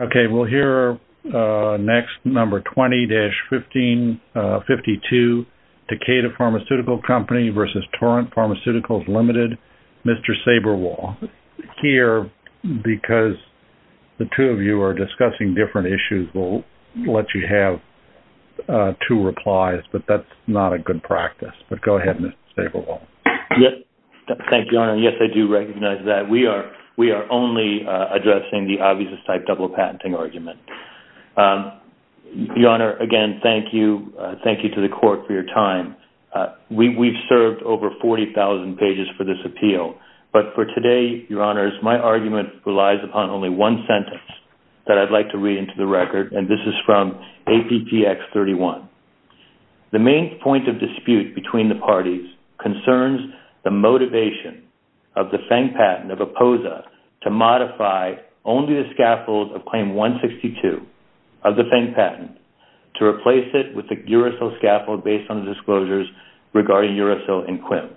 Okay, we'll hear next number 20-1552, Takeda Pharmaceutical Company v. Torrent Pharmaceuticals Ltd., Mr. Saberwall. Here, because the two of you are discussing different issues, we'll let you have two replies, but that's not a good practice. But go ahead, Mr. Saberwall. Yes, thank you, Your Honor. Yes, I do recognize that. We are only addressing the obvious-type double-patenting argument. Your Honor, again, thank you. Thank you to the Court for your time. We've served over 40,000 pages for this appeal, but for today, Your Honors, my argument relies upon only one sentence that I'd like to read into the record, and this is from APTX 31. The main point of dispute between the parties concerns the motivation of the proposal of Claim 162 of the FENG patent to replace it with a uracil scaffold based on the disclosures regarding uracil and QUIM.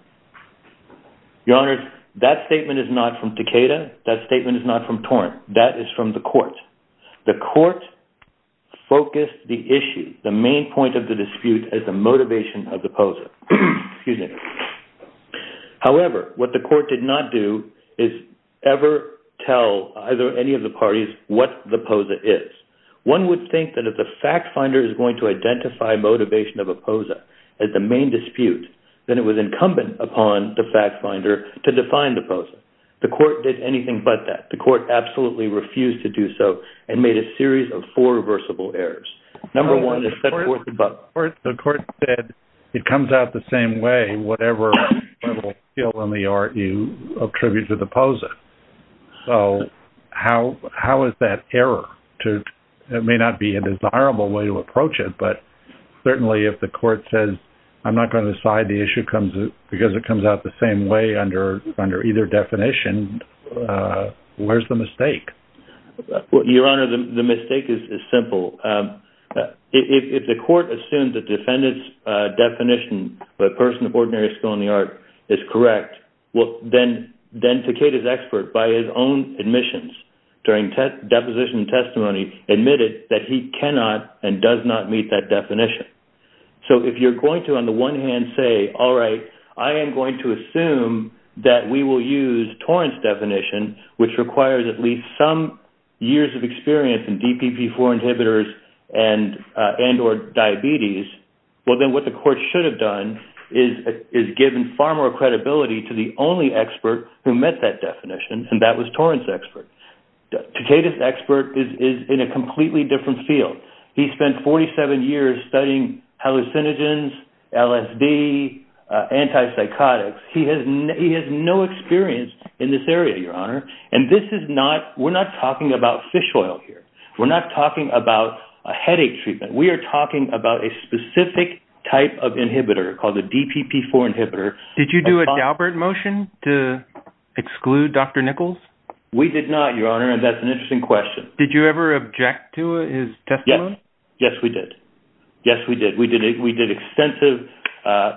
Your Honors, that statement is not from Takeda. That statement is not from Torrent. That is from the Court. The Court focused the issue, the main point of the dispute, as the motivation of the proposal. However, what the Court did not do is ever tell either any of the parties what the POSA is. One would think that if the fact finder is going to identify motivation of a POSA as the main dispute, then it was incumbent upon the fact finder to define the POSA. The Court did anything but that. The Court absolutely refused to do so and made a series of four reversible errors. Number one is set forth above. The Court said it comes out the same way, whatever skill in the art you attribute to the POSA. How is that error? It may not be a desirable way to approach it, but certainly if the Court says, I'm not going to decide the issue because it comes out the same way under either definition, where's the mistake? Your Honor, the mistake is simple. If the Court assumed the defendant's definition, the person of ordinary skill in the art, is correct, then Takeda's expert, by his own admissions during deposition and testimony, admitted that he cannot and does not meet that definition. If you're going to, on the one hand, say, all right, I am going to assume that we will use Torrance's definition, which requires at least some years of experience in DPP-4 inhibitors and diabetes, then what the Court should have done is given far more credibility to the only expert who met that definition, and that was Torrance's expert. Takeda's expert is in a completely different field. He spent 47 years studying hallucinogens, LSD, antipsychotics. He has no experience in this area, Your Honor. We're not talking about fish oil here. We're not talking about a headache treatment. We are talking about a specific type of inhibitor called a DPP-4 inhibitor. Did you do a Daubert motion to exclude Dr. Nichols? We did not, Your Honor, and that's an interesting question. Did you ever object to his testimony? Yes, we did. Yes, we did. We did extensive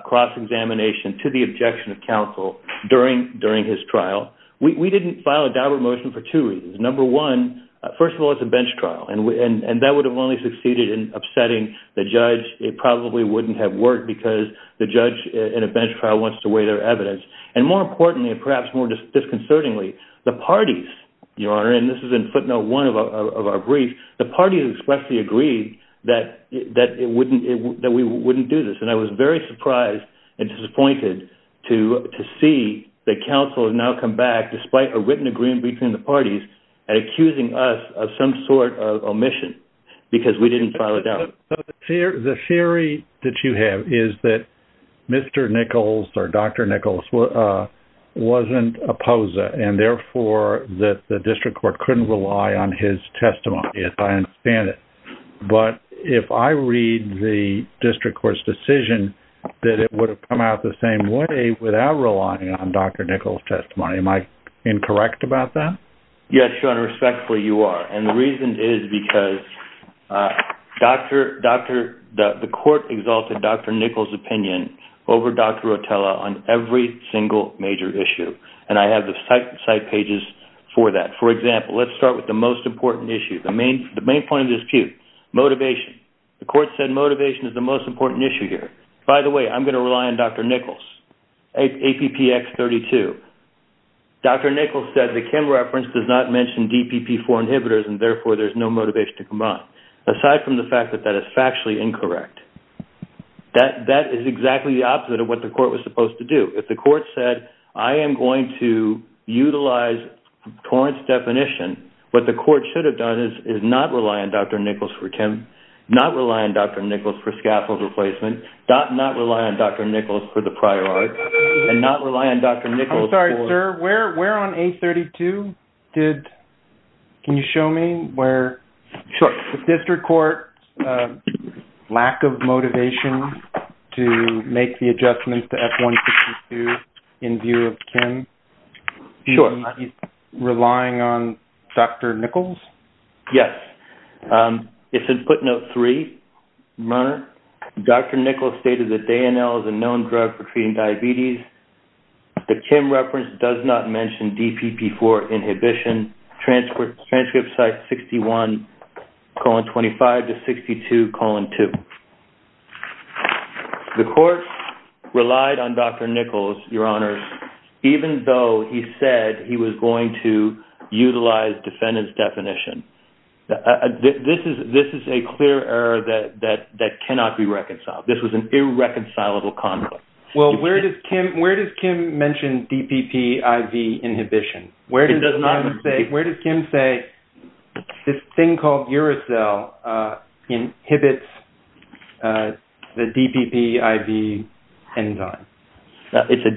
cross-examination to the objection of counsel during his trial. We didn't file a bench trial, and that would have only succeeded in upsetting the judge. It probably wouldn't have worked because the judge in a bench trial wants to weigh their evidence, and more importantly, and perhaps more disconcertingly, the parties, Your Honor, and this is in footnote one of our brief, the parties expressly agreed that we wouldn't do this, and I was very surprised and disappointed to see that counsel has now come back, despite a written agreement between the court of omission because we didn't file it down. The theory that you have is that Mr. Nichols or Dr. Nichols wasn't a POSA, and therefore, that the district court couldn't rely on his testimony, as I understand it, but if I read the district court's decision, that it would have come out the same way without relying on Dr. Nichols' testimony. Am I incorrect about that? Yes, Your Honor, respectfully, you are, and the reason is because the court exalted Dr. Nichols' opinion over Dr. Rotella on every single major issue, and I have the site pages for that. For example, let's start with the most important issue, the main point of dispute, motivation. The court said motivation is the most important issue here. By the way, I'm going to rely on Dr. Nichols, APPX32. Dr. Nichols said the Kim reference does not mention DPP4 inhibitors, and therefore, there's no motivation to come out, aside from the fact that that is factually incorrect. That is exactly the opposite of what the court was supposed to do. If the court said, I am going to utilize Torrance's definition, what the court should have done is not rely on Dr. Nichols for that, and not rely on Dr. Nichols. I'm sorry, sir, where on A32 did, can you show me where? Sure. The district court's lack of motivation to make the adjustments to F162 in view of Kim. Sure. Relying on Dr. Nichols? Yes. It's in footnote 3, Your Honor. Dr. Nichols stated that diabetes, the Kim reference does not mention DPP4 inhibition, transcript site 61, colon 25 to 62, colon 2. The court relied on Dr. Nichols, Your Honor, even though he said he was going to utilize defendant's definition. This is a clear error that cannot be reconciled. This was an irreconcilable conflict. Well, where does Kim mention DPPIV inhibition? Where does Kim say this thing called uracil inhibits the DPPIV enzyme? It's a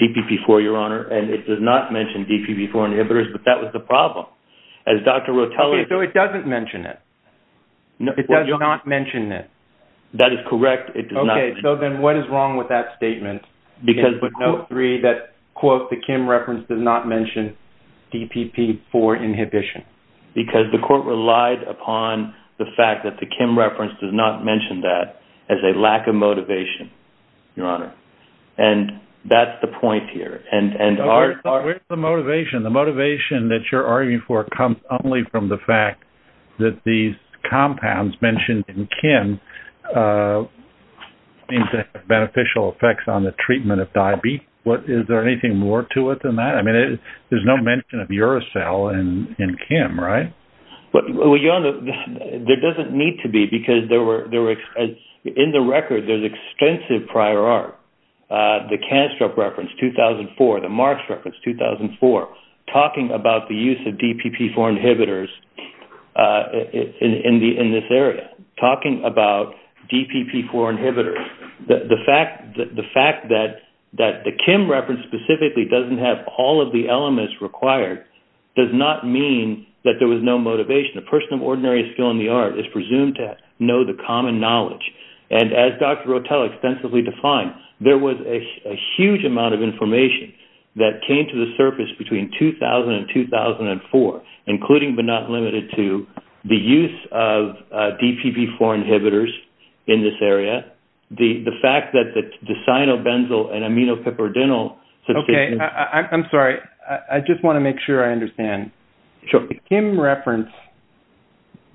DPP4, Your Honor, and it does not mention DPP4 inhibitors, but that was the problem. As Dr. Rotelli... So it doesn't mention it? It does not mention it? That is correct. It does not... Okay. So then what is wrong with that statement? Because footnote 3, that quote, the Kim reference does not mention DPP4 inhibition. Because the court relied upon the fact that the Kim reference does not mention that as a lack of motivation, Your Honor. And that's the point here. And our... Where's the motivation? The motivation that you're arguing for comes only from the fact that these compounds mentioned in Kim seem to have beneficial effects on the treatment of diabetes. Is there anything more to it than that? I mean, there's no mention of uracil in Kim, right? Well, Your Honor, there doesn't need to be because there were... In the record, there's extensive prior art. The Canstrup reference, 2004, the Marx reference, 2004, talking about the use of DPP4 inhibitors in this area, talking about DPP4 inhibitors, the fact that the Kim reference specifically doesn't have all of the elements required does not mean that there was no motivation. A person of ordinary skill in the art is presumed to know the common knowledge. And as Dr. Rotelli extensively defined, there was a huge amount of information that came to the surface between 2000 and 2004, including but not limited to the use of DPP4 inhibitors in this area, the fact that the cyanobenzoyl and aminopyperidinyl... Okay. I'm sorry. I just want to make sure I understand. Sure. The Kim reference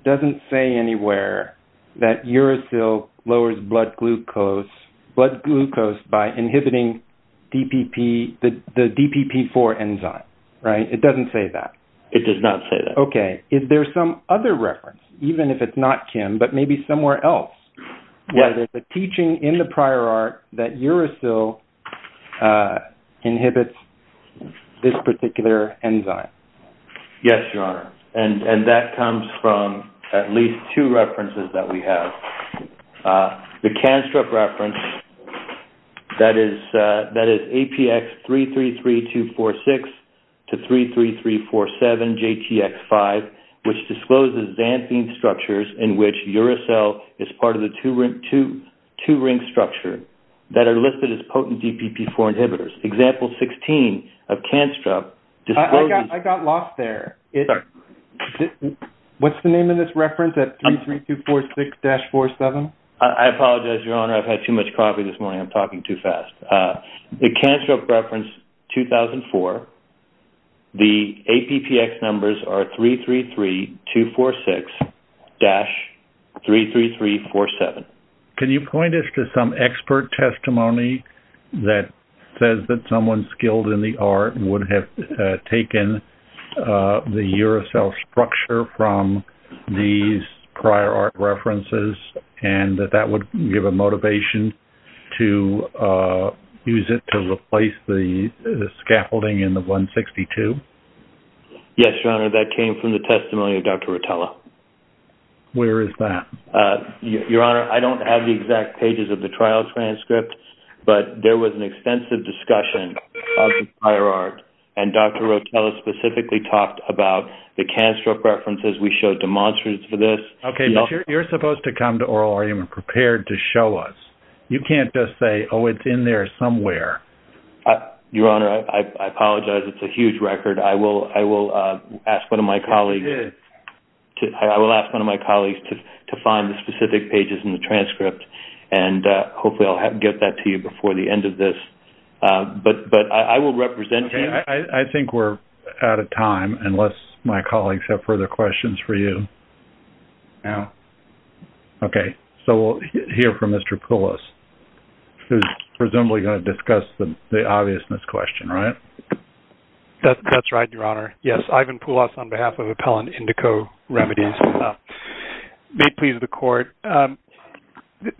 doesn't say anywhere that uracil lowers blood glucose by inhibiting the DPP4 enzyme, right? It doesn't say that. It does not say that. Okay. Is there some other reference, even if it's not Kim, but maybe somewhere else, where there's a teaching in the prior art that uracil inhibits this particular enzyme? Yes, Your Honor. And that comes from at least two references that we have. The Canstrup reference, that is APX333246 to 33347JTX5, which discloses xanthine structures in which uracil is part of the two-ring structure that are listed as potent DPP4 inhibitors. Example 16 of Canstrup discloses... I got lost there. What's the name of this reference at 33246-47? I apologize, Your Honor. I've had too much coffee this morning. I'm talking too fast. The Canstrup reference 2004, the APPX numbers are 333246-33347. Can you point us to some expert testimony that says that someone skilled in the art would have taken the uracil structure from these prior art references and that that would give a motivation to use it to replace the scaffolding in the 162? Yes, Your Honor. That came from the testimony of Dr. Rotella. Where is that? Your Honor, I don't have the exact pages of the trial transcript, but there was an extensive discussion of the prior art, and Dr. Rotella specifically talked about the Canstrup references we showed demonstrators for this. Okay, but you're supposed to come to oral argument prepared to show us. You can't just say, oh, it's in there somewhere. Your Honor, I apologize. It's a huge record. I will ask one of my colleagues to find specific pages in the transcript, and hopefully I'll get that to you before the end of this, but I will represent you. Okay. I think we're out of time unless my colleagues have further questions for you now. Okay, so we'll hear from Mr. Poulos, who's presumably going to discuss the obviousness question, right? That's right, Your Honor. Yes, Ivan Poulos on behalf of Appellant Indico Remedies. May it please the court.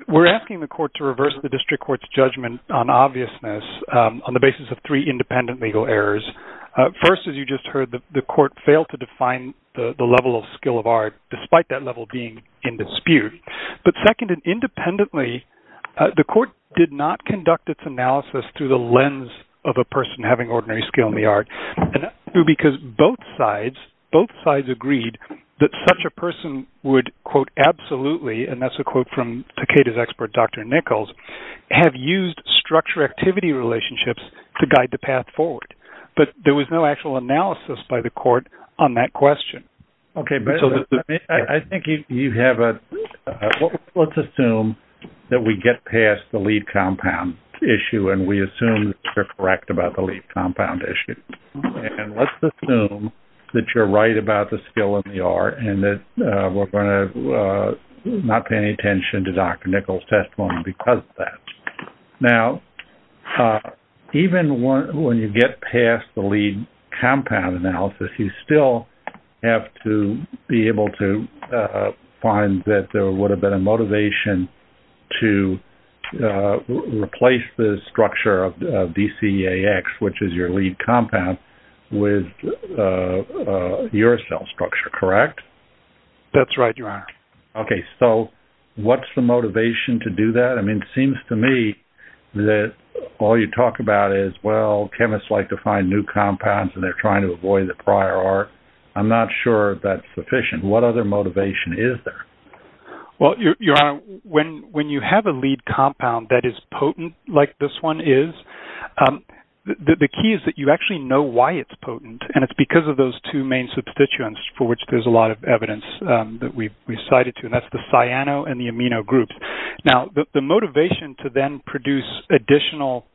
We're asking the court to reverse the district court's judgment on obviousness on the basis of three independent legal errors. First, as you just heard, the court failed to define the level of skill of art despite that level being in dispute, but second, independently, the court did not conduct its analysis through the lens of a person having ordinary skill in the art, because both sides agreed that such person would, quote, absolutely, and that's a quote from Takeda's expert, Dr. Nichols, have used structure activity relationships to guide the path forward, but there was no actual analysis by the court on that question. Okay, but I think you have a... Let's assume that we get past the lead compound issue, and we assume that you're correct about the lead we're going to not pay any attention to Dr. Nichols' testimony because of that. Now, even when you get past the lead compound analysis, you still have to be able to find that there would have been a motivation to replace the structure of DCAX, which is your lead compound. That's right, your honor. Okay, so what's the motivation to do that? I mean, it seems to me that all you talk about is, well, chemists like to find new compounds, and they're trying to avoid the prior art. I'm not sure that's sufficient. What other motivation is there? Well, your honor, when you have a lead compound that is potent, like this one is, the key is that you actually know why it's potent, and it's because of those two main substituents for which there's a lot of evidence that we've cited to, and that's the cyano and the amino groups. Now, the motivation to then produce additional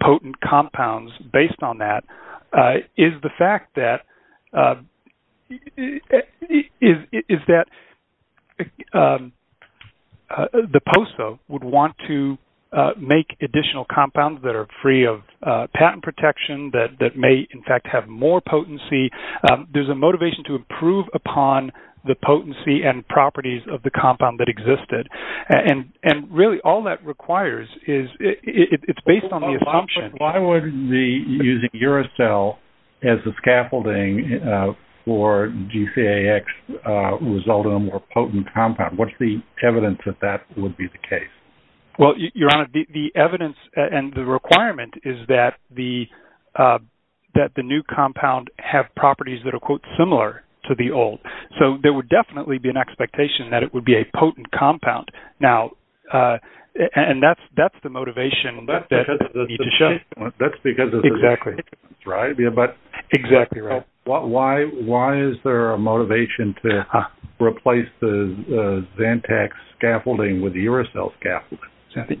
potent compounds based on that is the fact that the POSO would want to make additional compounds that are free of patent protection, that may, in fact, have more potency. There's a motivation to improve upon the potency and properties of the compound that existed, and really, all that requires is, it's based on the assumption. Why would using uracil as a scaffolding for DCAX result in a more potent compound? What's the evidence that that would be the case? Well, your honor, the evidence and the that the new compound have properties that are, quote, similar to the old. So, there would definitely be an expectation that it would be a potent compound. Now, and that's the motivation. That's because of the substituents, right? Exactly right. Why is there a motivation to replace the Zantac scaffolding with the uracil scaffolding?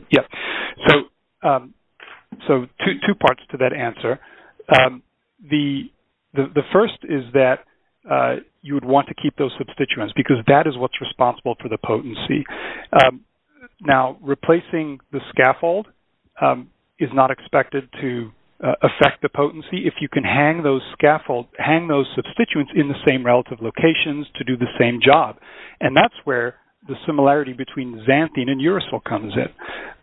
So, two parts to that answer. The first is that you would want to keep those substituents because that is what's responsible for the potency. Now, replacing the scaffold is not expected to affect the potency. If you can hang those substituents in the same relative locations to do the same job, and that's where the similarity between xanthine and uracil comes in.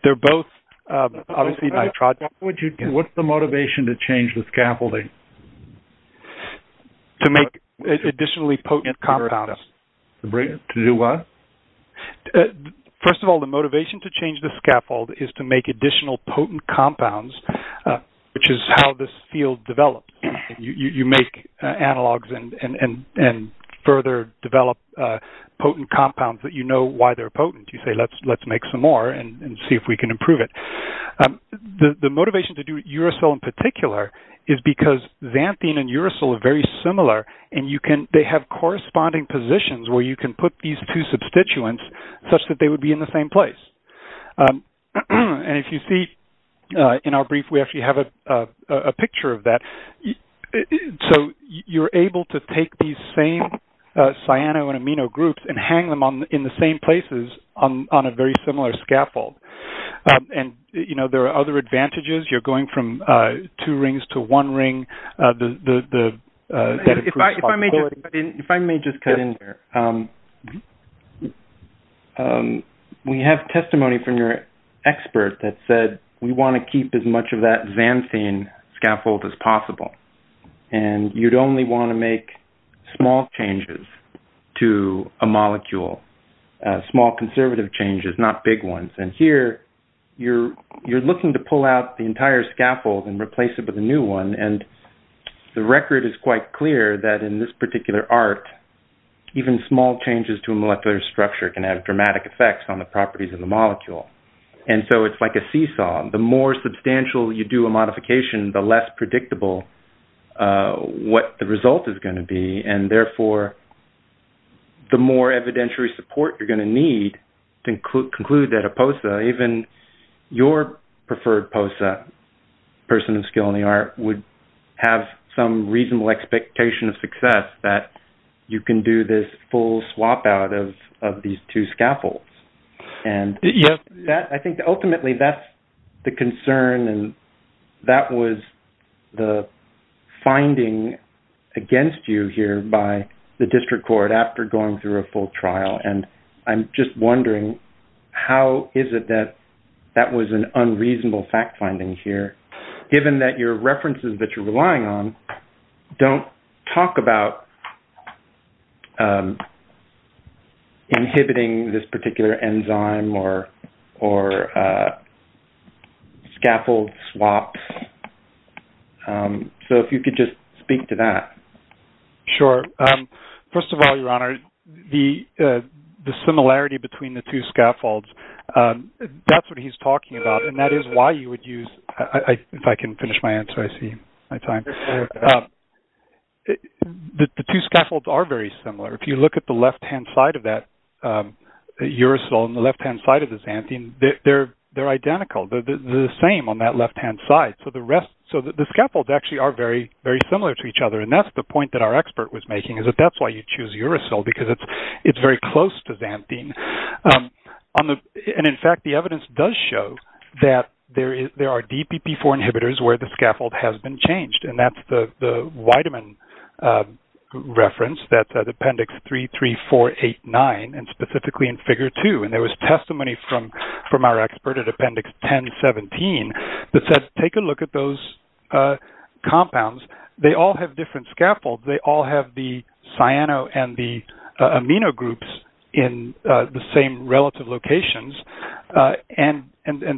They're both obviously nitrogen. What's the motivation to change the scaffolding? To make additionally potent compounds. To do what? First of all, the motivation to change the scaffold is to make additional potent compounds, which is how this field develops. You make analogs and further develop potent compounds that you know why they're potent. You say, let's make some more and see if we can improve it. The motivation to do uracil in particular is because xanthine and uracil are very similar, and they have corresponding positions where you can put these two substituents such that they would be in the same place. And if you see in our brief, we actually have a picture of that. So, you're able to take these cyano and amino groups and hang them in the same places on a very similar scaffold. There are other advantages. You're going from two rings to one ring. If I may just cut in there, we have testimony from your expert that said, we want to keep as much of that xanthine scaffold as possible. You'd only want to make small changes to a molecule, small conservative changes, not big ones. And here, you're looking to pull out the entire scaffold and replace it with a new one. And the record is quite clear that in this particular art, even small changes to a molecular structure can have dramatic effects on the properties of the molecule. And so, it's like a seesaw. The more substantial you do a modification, the less predictable what the result is going to be. And therefore, the more evidentiary support you're going to need to conclude that a POSA, even your preferred POSA, person of skill in the art, would have some reasonable expectation of success that you can do this full swap out of these two scaffolds. And I think ultimately, that's the concern. And that was the finding against you here by the district court after going through a full trial. And I'm just wondering, how is it that that was an unreasonable fact finding here, given that your references that you're relying on, don't talk about inhibiting this particular enzyme or scaffold swaps? So, if you could just speak to that. Sure. First of all, Your Honor, the similarity between the two scaffolds, that's what he's talking about. And that is why you would use... If I can finish my answer, I see my time. The two scaffolds are very similar. If you look at the left-hand side of that uracil and the left-hand side of the xanthine, they're identical. They're the same on that left-hand side. So, the rest... So, the scaffolds actually are very, very similar to each other. And that's the point that our expert was making, is that that's why you choose uracil because it's very close to xanthine. And in fact, the evidence does show that there are DPP-4 inhibitors where the scaffold has been changed. And that's the vitamin reference that's at Appendix 3, 3, 4, 8, 9, and specifically in Figure 2. And there was testimony from our expert at Appendix 10-17 that said, take a look at those compounds. They all have different scaffolds. They all have the cyano and the amino groups in the same relative locations. And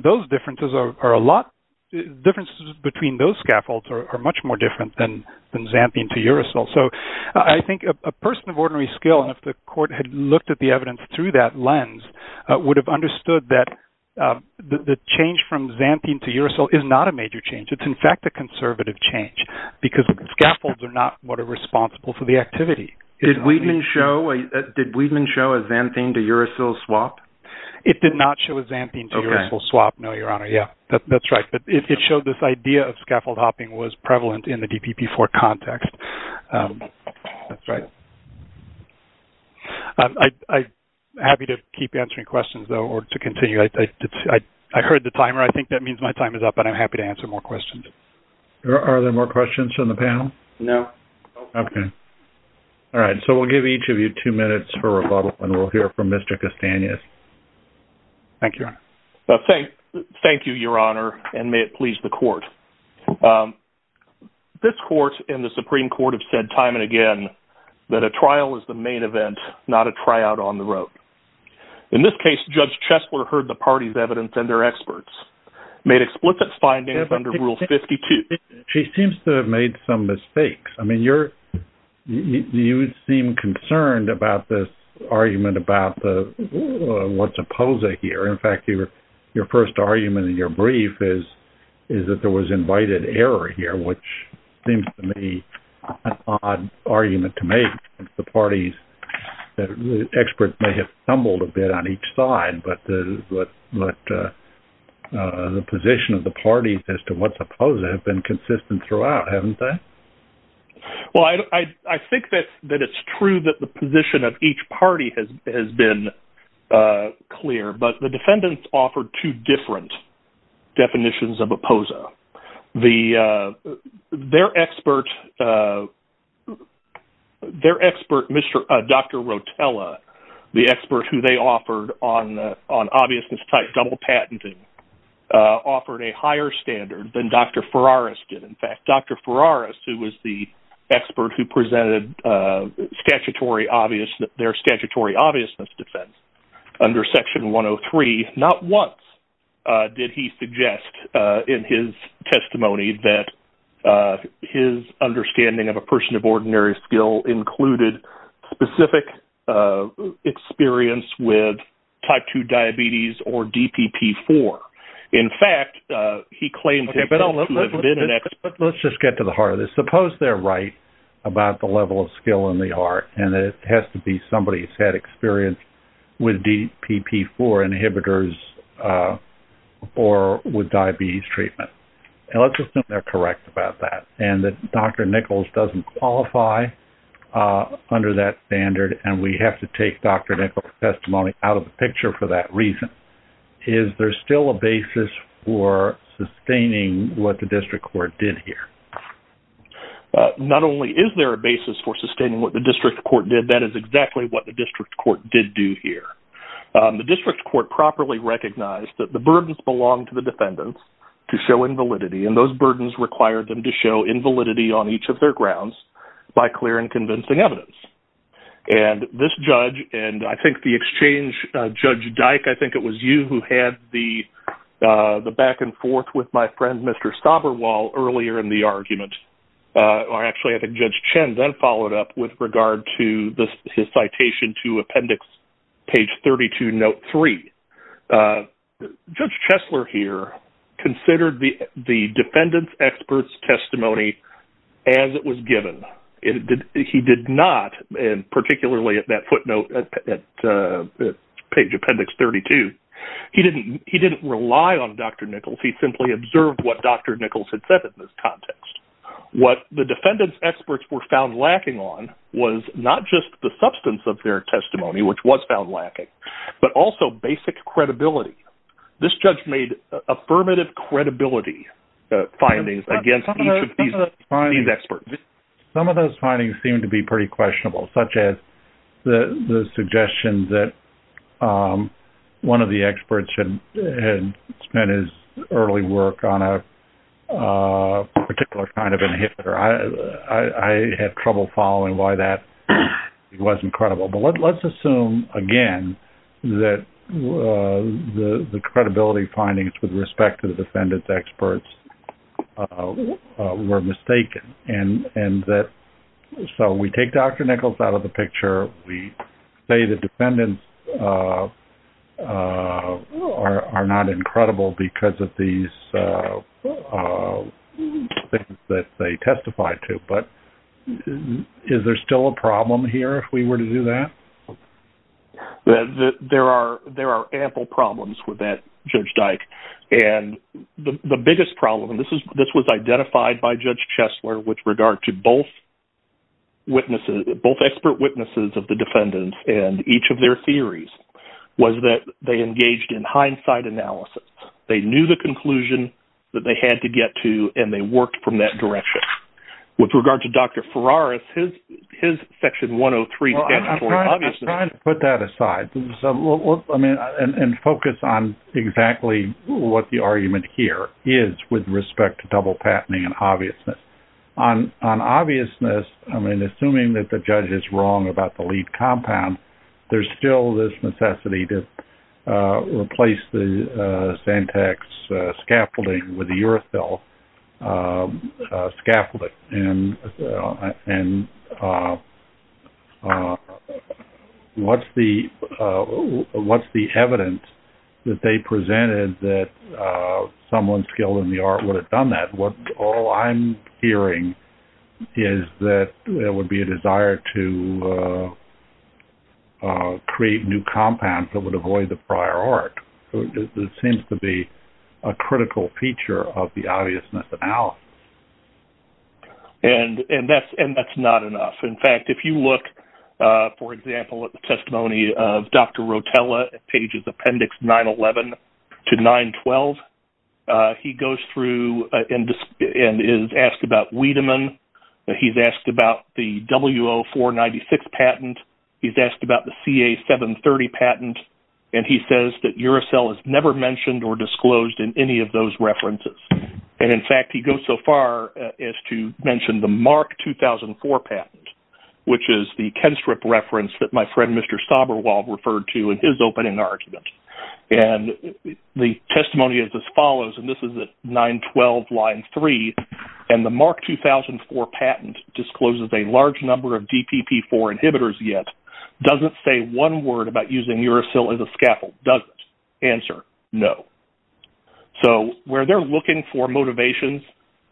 those differences are a lot... Differences between those scaffolds are much more different than xanthine to uracil. So, I think a person of ordinary skill, and if the court had looked at the evidence through that lens, would have understood that the change from xanthine to uracil is not a major change. It's, in fact, a conservative change because scaffolds are not what are responsible for the activity. Did Wiedemann show a xanthine to uracil swap? It did not show a xanthine to uracil swap, no, Your Honor. Yeah, that's right. But it showed this idea of scaffold hopping was prevalent in the DPP-4 context. That's right. I'm happy to keep answering questions, though, or to continue. I heard the timer. I think that means my time is up, and I'm happy to answer more questions. Are there more questions from the panel? No. Okay. All right. So, we'll give each of you two minutes for rebuttal, and we'll hear from Mr. Castanhas. Thank you, Your Honor. Thank you, Your Honor, and may it please the court. This court and the Supreme Court have said time and again that a trial is the main event, not a tryout on the road. In this case, Judge Chesler heard the party's evidence and their findings under Rule 52. She seems to have made some mistakes. I mean, you seem concerned about this argument about what's opposing here. In fact, your first argument in your brief is that there was invited error here, which seems to me an odd argument to make. The the position of the parties as to what's opposed have been consistent throughout, haven't they? Well, I think that it's true that the position of each party has been clear, but the defendants offered two different definitions of opposa. Their expert, Dr. Rotella, the expert who they patented, offered a higher standard than Dr. Ferraris did. In fact, Dr. Ferraris, who was the expert who presented their statutory obviousness defense under Section 103, not once did he suggest in his testimony that his understanding of a person of ordinary skill included specific experience with type 2 diabetes or DPP-4. In fact, he claimed to have been an expert. Let's just get to the heart of this. Suppose they're right about the level of skill in the art, and it has to be somebody who's had experience with DPP-4 inhibitors or with diabetes treatment. And let's just assume they're correct about that, and that Dr. Nichols doesn't qualify under that standard, and we have to take Dr. Nichols' testimony out of the picture for that reason. Is there still a basis for sustaining what the district court did here? Not only is there a basis for sustaining what the district court did, that is exactly what the district court did do here. The district court properly recognized that the burdens belong to the defendants to show invalidity, and those burdens require them to show invalidity on each of their grounds by clear and convincing evidence. And this judge, and I think the exchange, Judge Dyke, I think it was you who had the back and forth with my friend Mr. Staberwal earlier in the argument, or actually I think Judge Chen then followed up with regard to his citation to given. He did not, and particularly at that footnote at page appendix 32, he didn't rely on Dr. Nichols. He simply observed what Dr. Nichols had said in this context. What the defendants' experts were found lacking on was not just the substance of their testimony, which was found lacking, but also basic credibility. This judge made affirmative credibility findings against each of these experts. Some of those findings seem to be pretty questionable, such as the suggestion that one of the experts had spent his early work on a particular kind of inhibitor. I had trouble following why that wasn't credible. But let's assume, again, that the credibility findings with respect to the defendants' experts were mistaken. So we take Dr. Nichols out of the picture. We say the defendants are not incredible because of these things that they testified to. But is there still a problem here if we were to do that? There are ample problems with that, Judge Dyke. And the biggest problem, and this was identified by Judge Chesler with regard to both expert witnesses of the defendants and each of their theories, was that they engaged in hindsight analysis. They knew the conclusion that they had to get to, and they worked from that direction. With regard to Dr. Ferraris, his section 103 statutory obviousness... Well, I'm trying to put that aside and focus on exactly what the argument here is with respect to double patenting and obviousness. On obviousness, I mean, assuming that the judge is wrong about the lead compound, there's still this necessity to replace the Santex scaffolding with a Uracil scaffolding. And what's the evidence that they presented that someone skilled in the art would have done that? All I'm hearing is that there would be a desire to create new compounds that would avoid the prior art. It seems to be a critical feature of the obviousness analysis. And that's not enough. In fact, if you look, for example, at the testimony of Dr. Rotella, pages Appendix 911 to 912, he goes through and is asked about Wiedemann. He's asked about the W.O. 496 patent. He's asked about the C.A. 730 patent. And he says that Uracil is never mentioned or disclosed in any of those references. And in fact, he goes so far as to mention the Mark 2004 patent, which is the Kenstrip reference that my friend Mr. Staberwald referred to in his opening argument. And the testimony is as follows. And this is at 912 line 3. And the Mark 2004 patent discloses a large number of DPP-4 inhibitors yet, doesn't say one word about using Uracil as a scaffold, does it? Answer, no. So, where they're looking for motivations,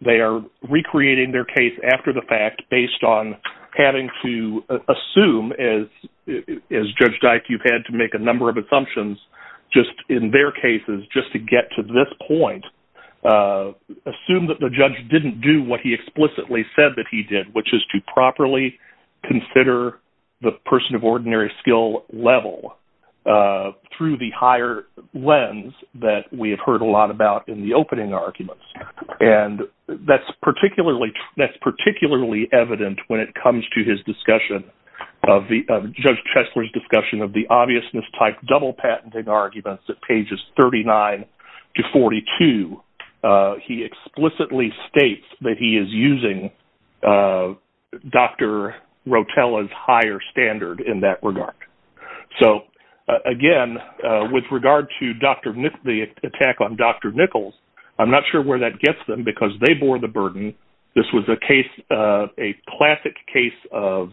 they are recreating their case after the fact based on having to assume, as Judge Dyke, you've had to make a number of assumptions, just in their cases, just to get to this point, assume that the judge didn't do what he explicitly said that he did, which is to properly consider the person of ordinary skill level through the higher lens that we have heard a lot about in the opening arguments. And that's particularly, that's particularly evident when it comes to his discussion of the Judge Chesler's discussion of the obviousness type double patenting arguments at pages 39 to 42. He explicitly states that he is using Dr. Rotella's higher standard in that regard. So, again, with regard to the attack on Dr. Nichols, I'm not sure where that gets them, because they bore the burden. This was a case, a classic case of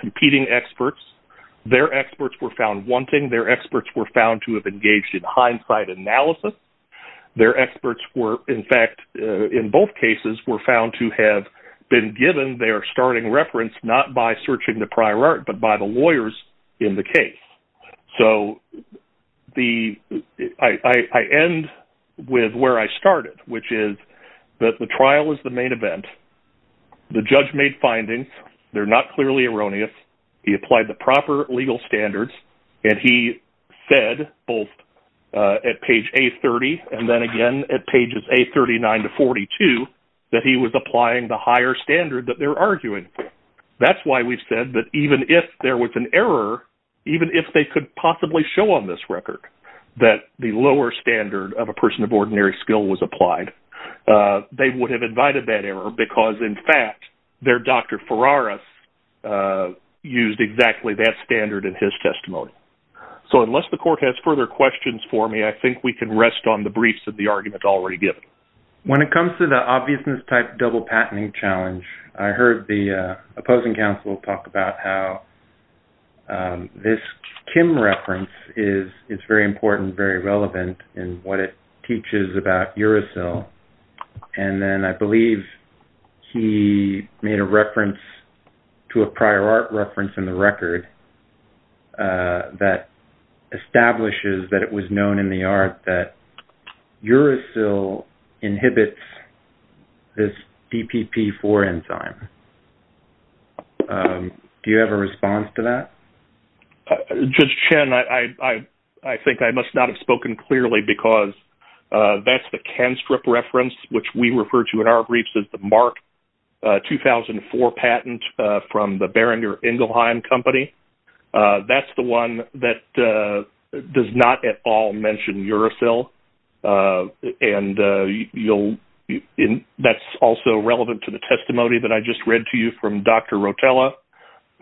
competing experts. Their experts were found wanting, their experts were found to have engaged in hindsight analysis. Their experts were, in fact, in both cases were found to have been given their starting reference, not by searching the prior art, but by the lawyers in the case. So, I end with where I started, which is that the trial is the main event. The judge made findings. They're not clearly erroneous. He applied the proper legal standards. And he said, both at page A30, and then again, at pages A39 to 42, that he was applying the higher standard that they're arguing. That's why we've said that even if there was an error, even if they could possibly show on this record that the lower standard of a person of ordinary skill was applied, they would have invited that error because, in fact, their Dr. Ferraris used exactly that standard in his testimony. So, unless the court has further questions for me, I think we can rest on the briefs of the argument already given. When it comes to the obviousness type double patenting challenge, I heard the opposing counsel talk about how this Kim reference is very important, very relevant in what it teaches about uracil. And then I believe he made a reference to a prior art reference in the record that establishes that it was known in the art that uracil inhibits this PPP4 enzyme. Do you have a response to that? Judge Chen, I think I must not have spoken clearly because that's the Kenstrip reference, which we refer to in our briefs as the Mark 2004 patent from the Beringer-Ingelheim Company. That's the one that does not at all mention uracil. And that's also relevant to the testimony that I just read to you from Dr. Rotella,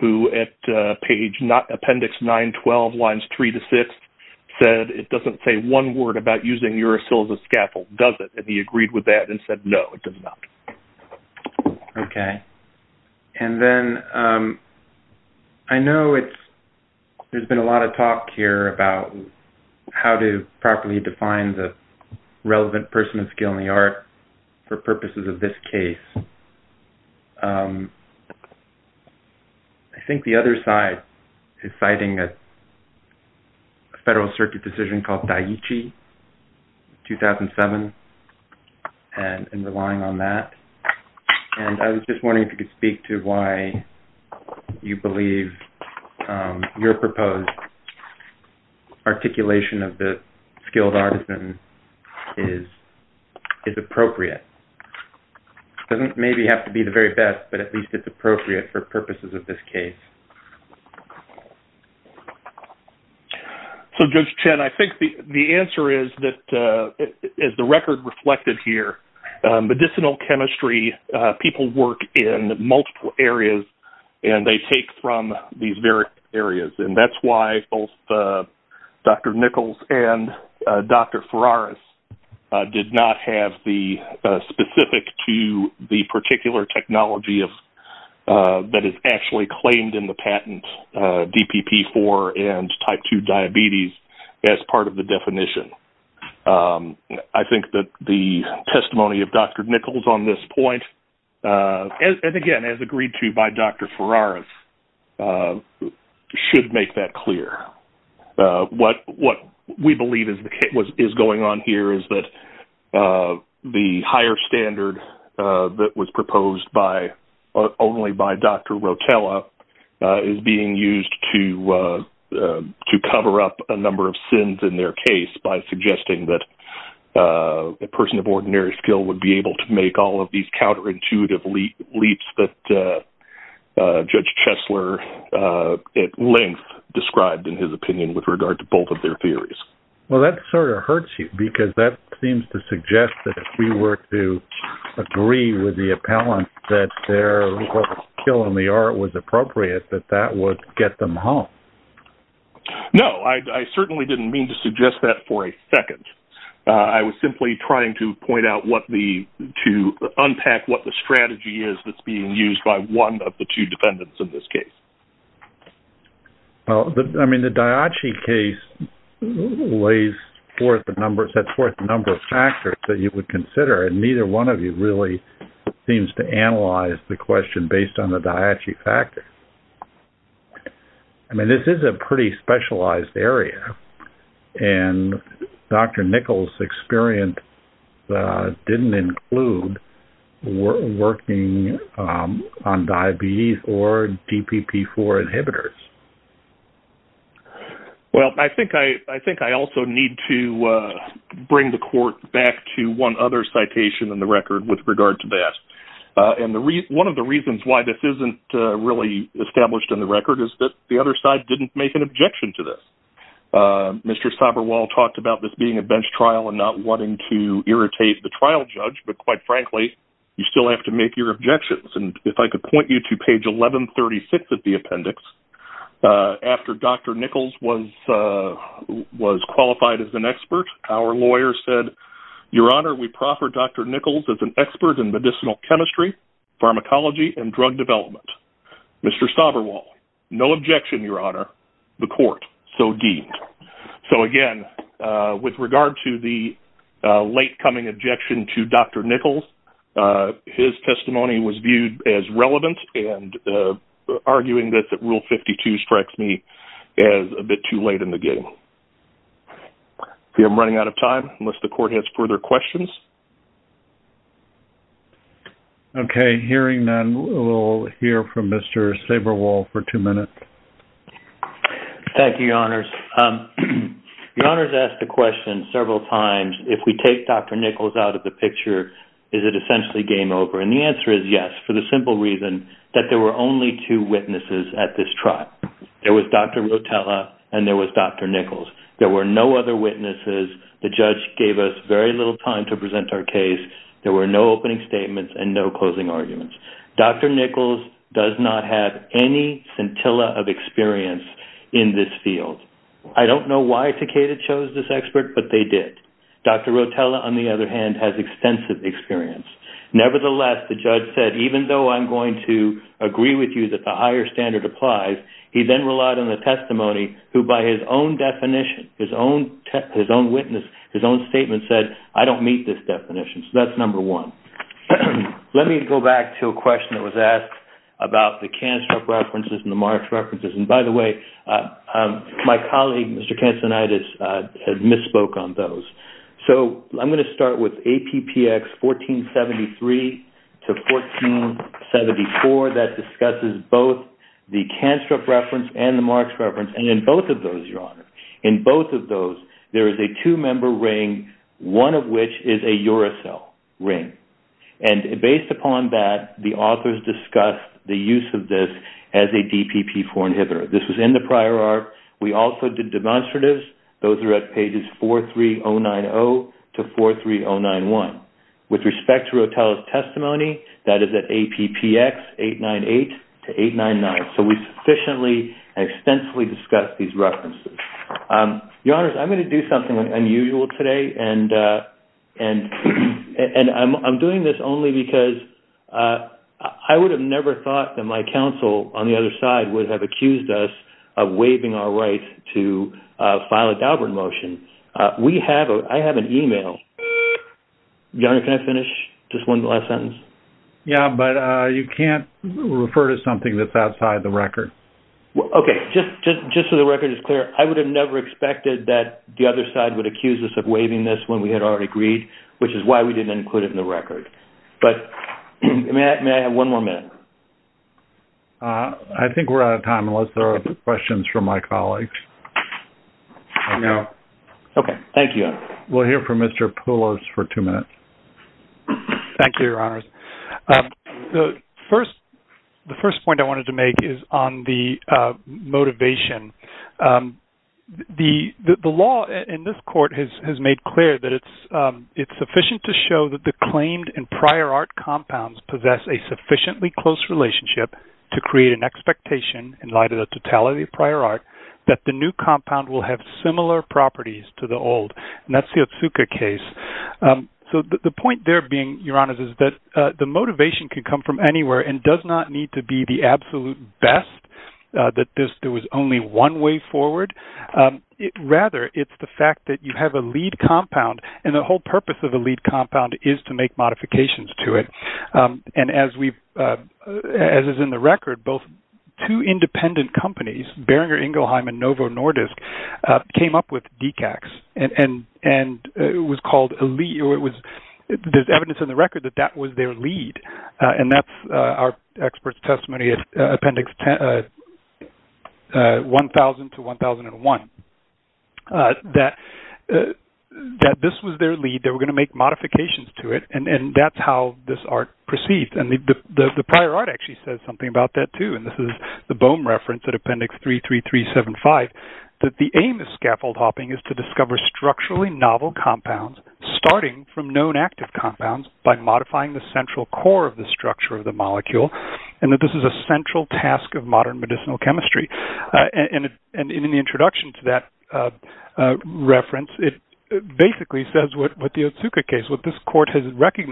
who at page appendix 912, lines 3 to 6, said it doesn't say one word about using uracil as a scaffold, does it? And he agreed with that and said, no, it does not. Okay. And then I know there's been a lot of talk here about how to properly define the relevant person of skill in the art for purposes of this case. I think the other side is citing a federal circuit decision called Daiichi, 2007, and relying on that. And I was just wondering if you could speak to why you believe your proposed articulation of the skilled artisan is appropriate. It doesn't maybe have to be the very best, but at least it's appropriate for purposes of this case. So, Judge Chen, I think the answer is that, as the record reflected here, medicinal chemistry, people work in multiple areas and they take from these various areas. And that's why both Dr. Nichols and Dr. Ferraris did not have the specific to the particular technology that is actually claimed in the patent, DPP-4 and type 2 diabetes, as part of the definition. And I think that the testimony of Dr. Nichols on this point, and again, as agreed to by Dr. Ferraris, should make that clear. What we believe is going on here is that the higher standard that was proposed only by Dr. Rotella is being used to cover up a number of sins in their case by suggesting that a person of ordinary skill would be able to make all of these counterintuitive leaps that Judge Chesler, at length, described in his opinion with regard to both of their theories. Well, that sort of hurts you because that seems to suggest that if we were to agree with the appellant that their skill in the art was certainly not to suggest that for a second. I was simply trying to point out what the, to unpack what the strategy is that's being used by one of the two defendants in this case. Well, I mean, the Diace case lays forth the number of factors that you would consider, and neither one of you really seems to analyze the question based on the Diace factors. I mean, this is a pretty specialized area, and Dr. Nichols' experience didn't include working on diabetes or DPP-4 inhibitors. Well, I think I also need to bring the court back to one other citation in the record with regard to that. And one of the reasons why this isn't really established in the record is that the other side didn't make an objection to this. Mr. Soberwal talked about this being a bench trial and not wanting to irritate the trial judge, but quite frankly, you still have to make your objections. And if I could point you to page 1136 of the appendix, after Dr. Nichols was qualified as an expert, our lawyer said, Your Honor, we proffer Dr. Nichols as an expert in medicinal chemistry, pharmacology and drug development. Mr. Soberwal, no objection, Your Honor. The court so deemed. So again, with regard to the late coming objection to Dr. Nichols, his testimony was viewed as relevant and arguing that Rule 52 strikes me as a bit too late in the trial. I'm running out of time, unless the court has further questions. Okay. Hearing none, we'll hear from Mr. Soberwal for two minutes. Thank you, Your Honors. Your Honors asked the question several times, if we take Dr. Nichols out of the picture, is it essentially game over? And the answer is yes, for the simple reason that there were only two witnesses at this trial. There was Dr. Rotella and there was Dr. Nichols. There were no other witnesses. The judge gave us very little time to present our case. There were no opening statements and no closing arguments. Dr. Nichols does not have any scintilla of experience in this field. I don't know why Takeda chose this expert, but they did. Dr. Rotella, on the other hand, has extensive experience. Nevertheless, the judge said, even though I'm going to agree with you that the higher standard applies, he then relied on the testimony, who by his own definition, his own witness, his own statement said, I don't meet this definition. So that's number one. Let me go back to a question that was asked about the Canstrup references and the Marsh references. And by the way, my colleague, Mr. Cansinides, had misspoke on those. So I'm going to start with APPX 1473 to 1474 that discusses both the Canstrup reference and the Marsh reference. And in both of those, Your Honor, in both of those, there is a two-member ring, one of which is a uracil ring. And based upon that, the authors discussed the use of this as a DPP4 inhibitor. This was in the prior ARP. We also did demonstratives. Those are at pages 43090 to 43091. With respect to testimony, that is at APPX 898 to 899. So we sufficiently and extensively discussed these references. Your Honor, I'm going to do something unusual today. And I'm doing this only because I would have never thought that my counsel on the other side would have accused us of waiving our right to file a Daubert motion. We have, I have an email. Your Honor, can I finish? Just one last sentence. Yeah, but you can't refer to something that's outside the record. Okay. Just so the record is clear, I would have never expected that the other side would accuse us of waiving this when we had already agreed, which is why we didn't include it in the record. But may I have one more minute? I think we're out of time unless there are questions from my colleagues. No. Okay. Thank you. We'll hear from Mr. Poulos for two minutes. Thank you, Your Honors. The first point I wanted to make is on the motivation. The law in this court has made clear that it's sufficient to show that the claimed and prior ARP compounds possess a sufficiently close relationship to create an expectation in light of totality of prior ARP that the new compound will have similar properties to the old. And that's the Otsuka case. So the point there being, Your Honors, is that the motivation can come from anywhere and does not need to be the absolute best, that there was only one way forward. Rather, it's the fact that you have a lead compound and the whole purpose of a lead Behringer, Ingelheim, and Novo Nordisk came up with decax. And it was called a lead. There's evidence in the record that that was their lead. And that's our expert's testimony at Appendix 1000 to 1001, that this was their lead. They were going to make modifications to it. And that's how this ARP proceeds. And the prior ARP actually says something about that too. And this is Bohm reference at Appendix 33375, that the aim of scaffold hopping is to discover structurally novel compounds, starting from known active compounds by modifying the central core of the structure of the molecule. And that this is a central task of modern medicinal chemistry. And in the introduction to that reference, it basically says what the Otsuka case, what this if you can improve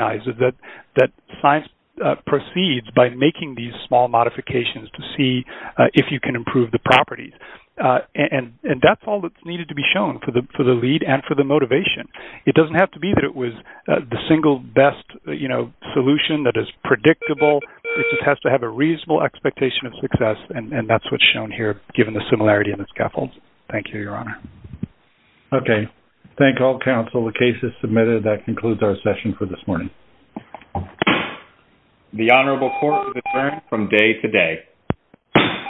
the properties. And that's all that's needed to be shown for the lead and for the motivation. It doesn't have to be that it was the single best solution that is predictable. It just has to have a reasonable expectation of success. And that's what's shown here, given the similarity in the scaffolds. Thank you, Your Honor. Okay. Thank all counsel. The case is submitted. That concludes our session for this morning. The Honorable Court is adjourned from day to day.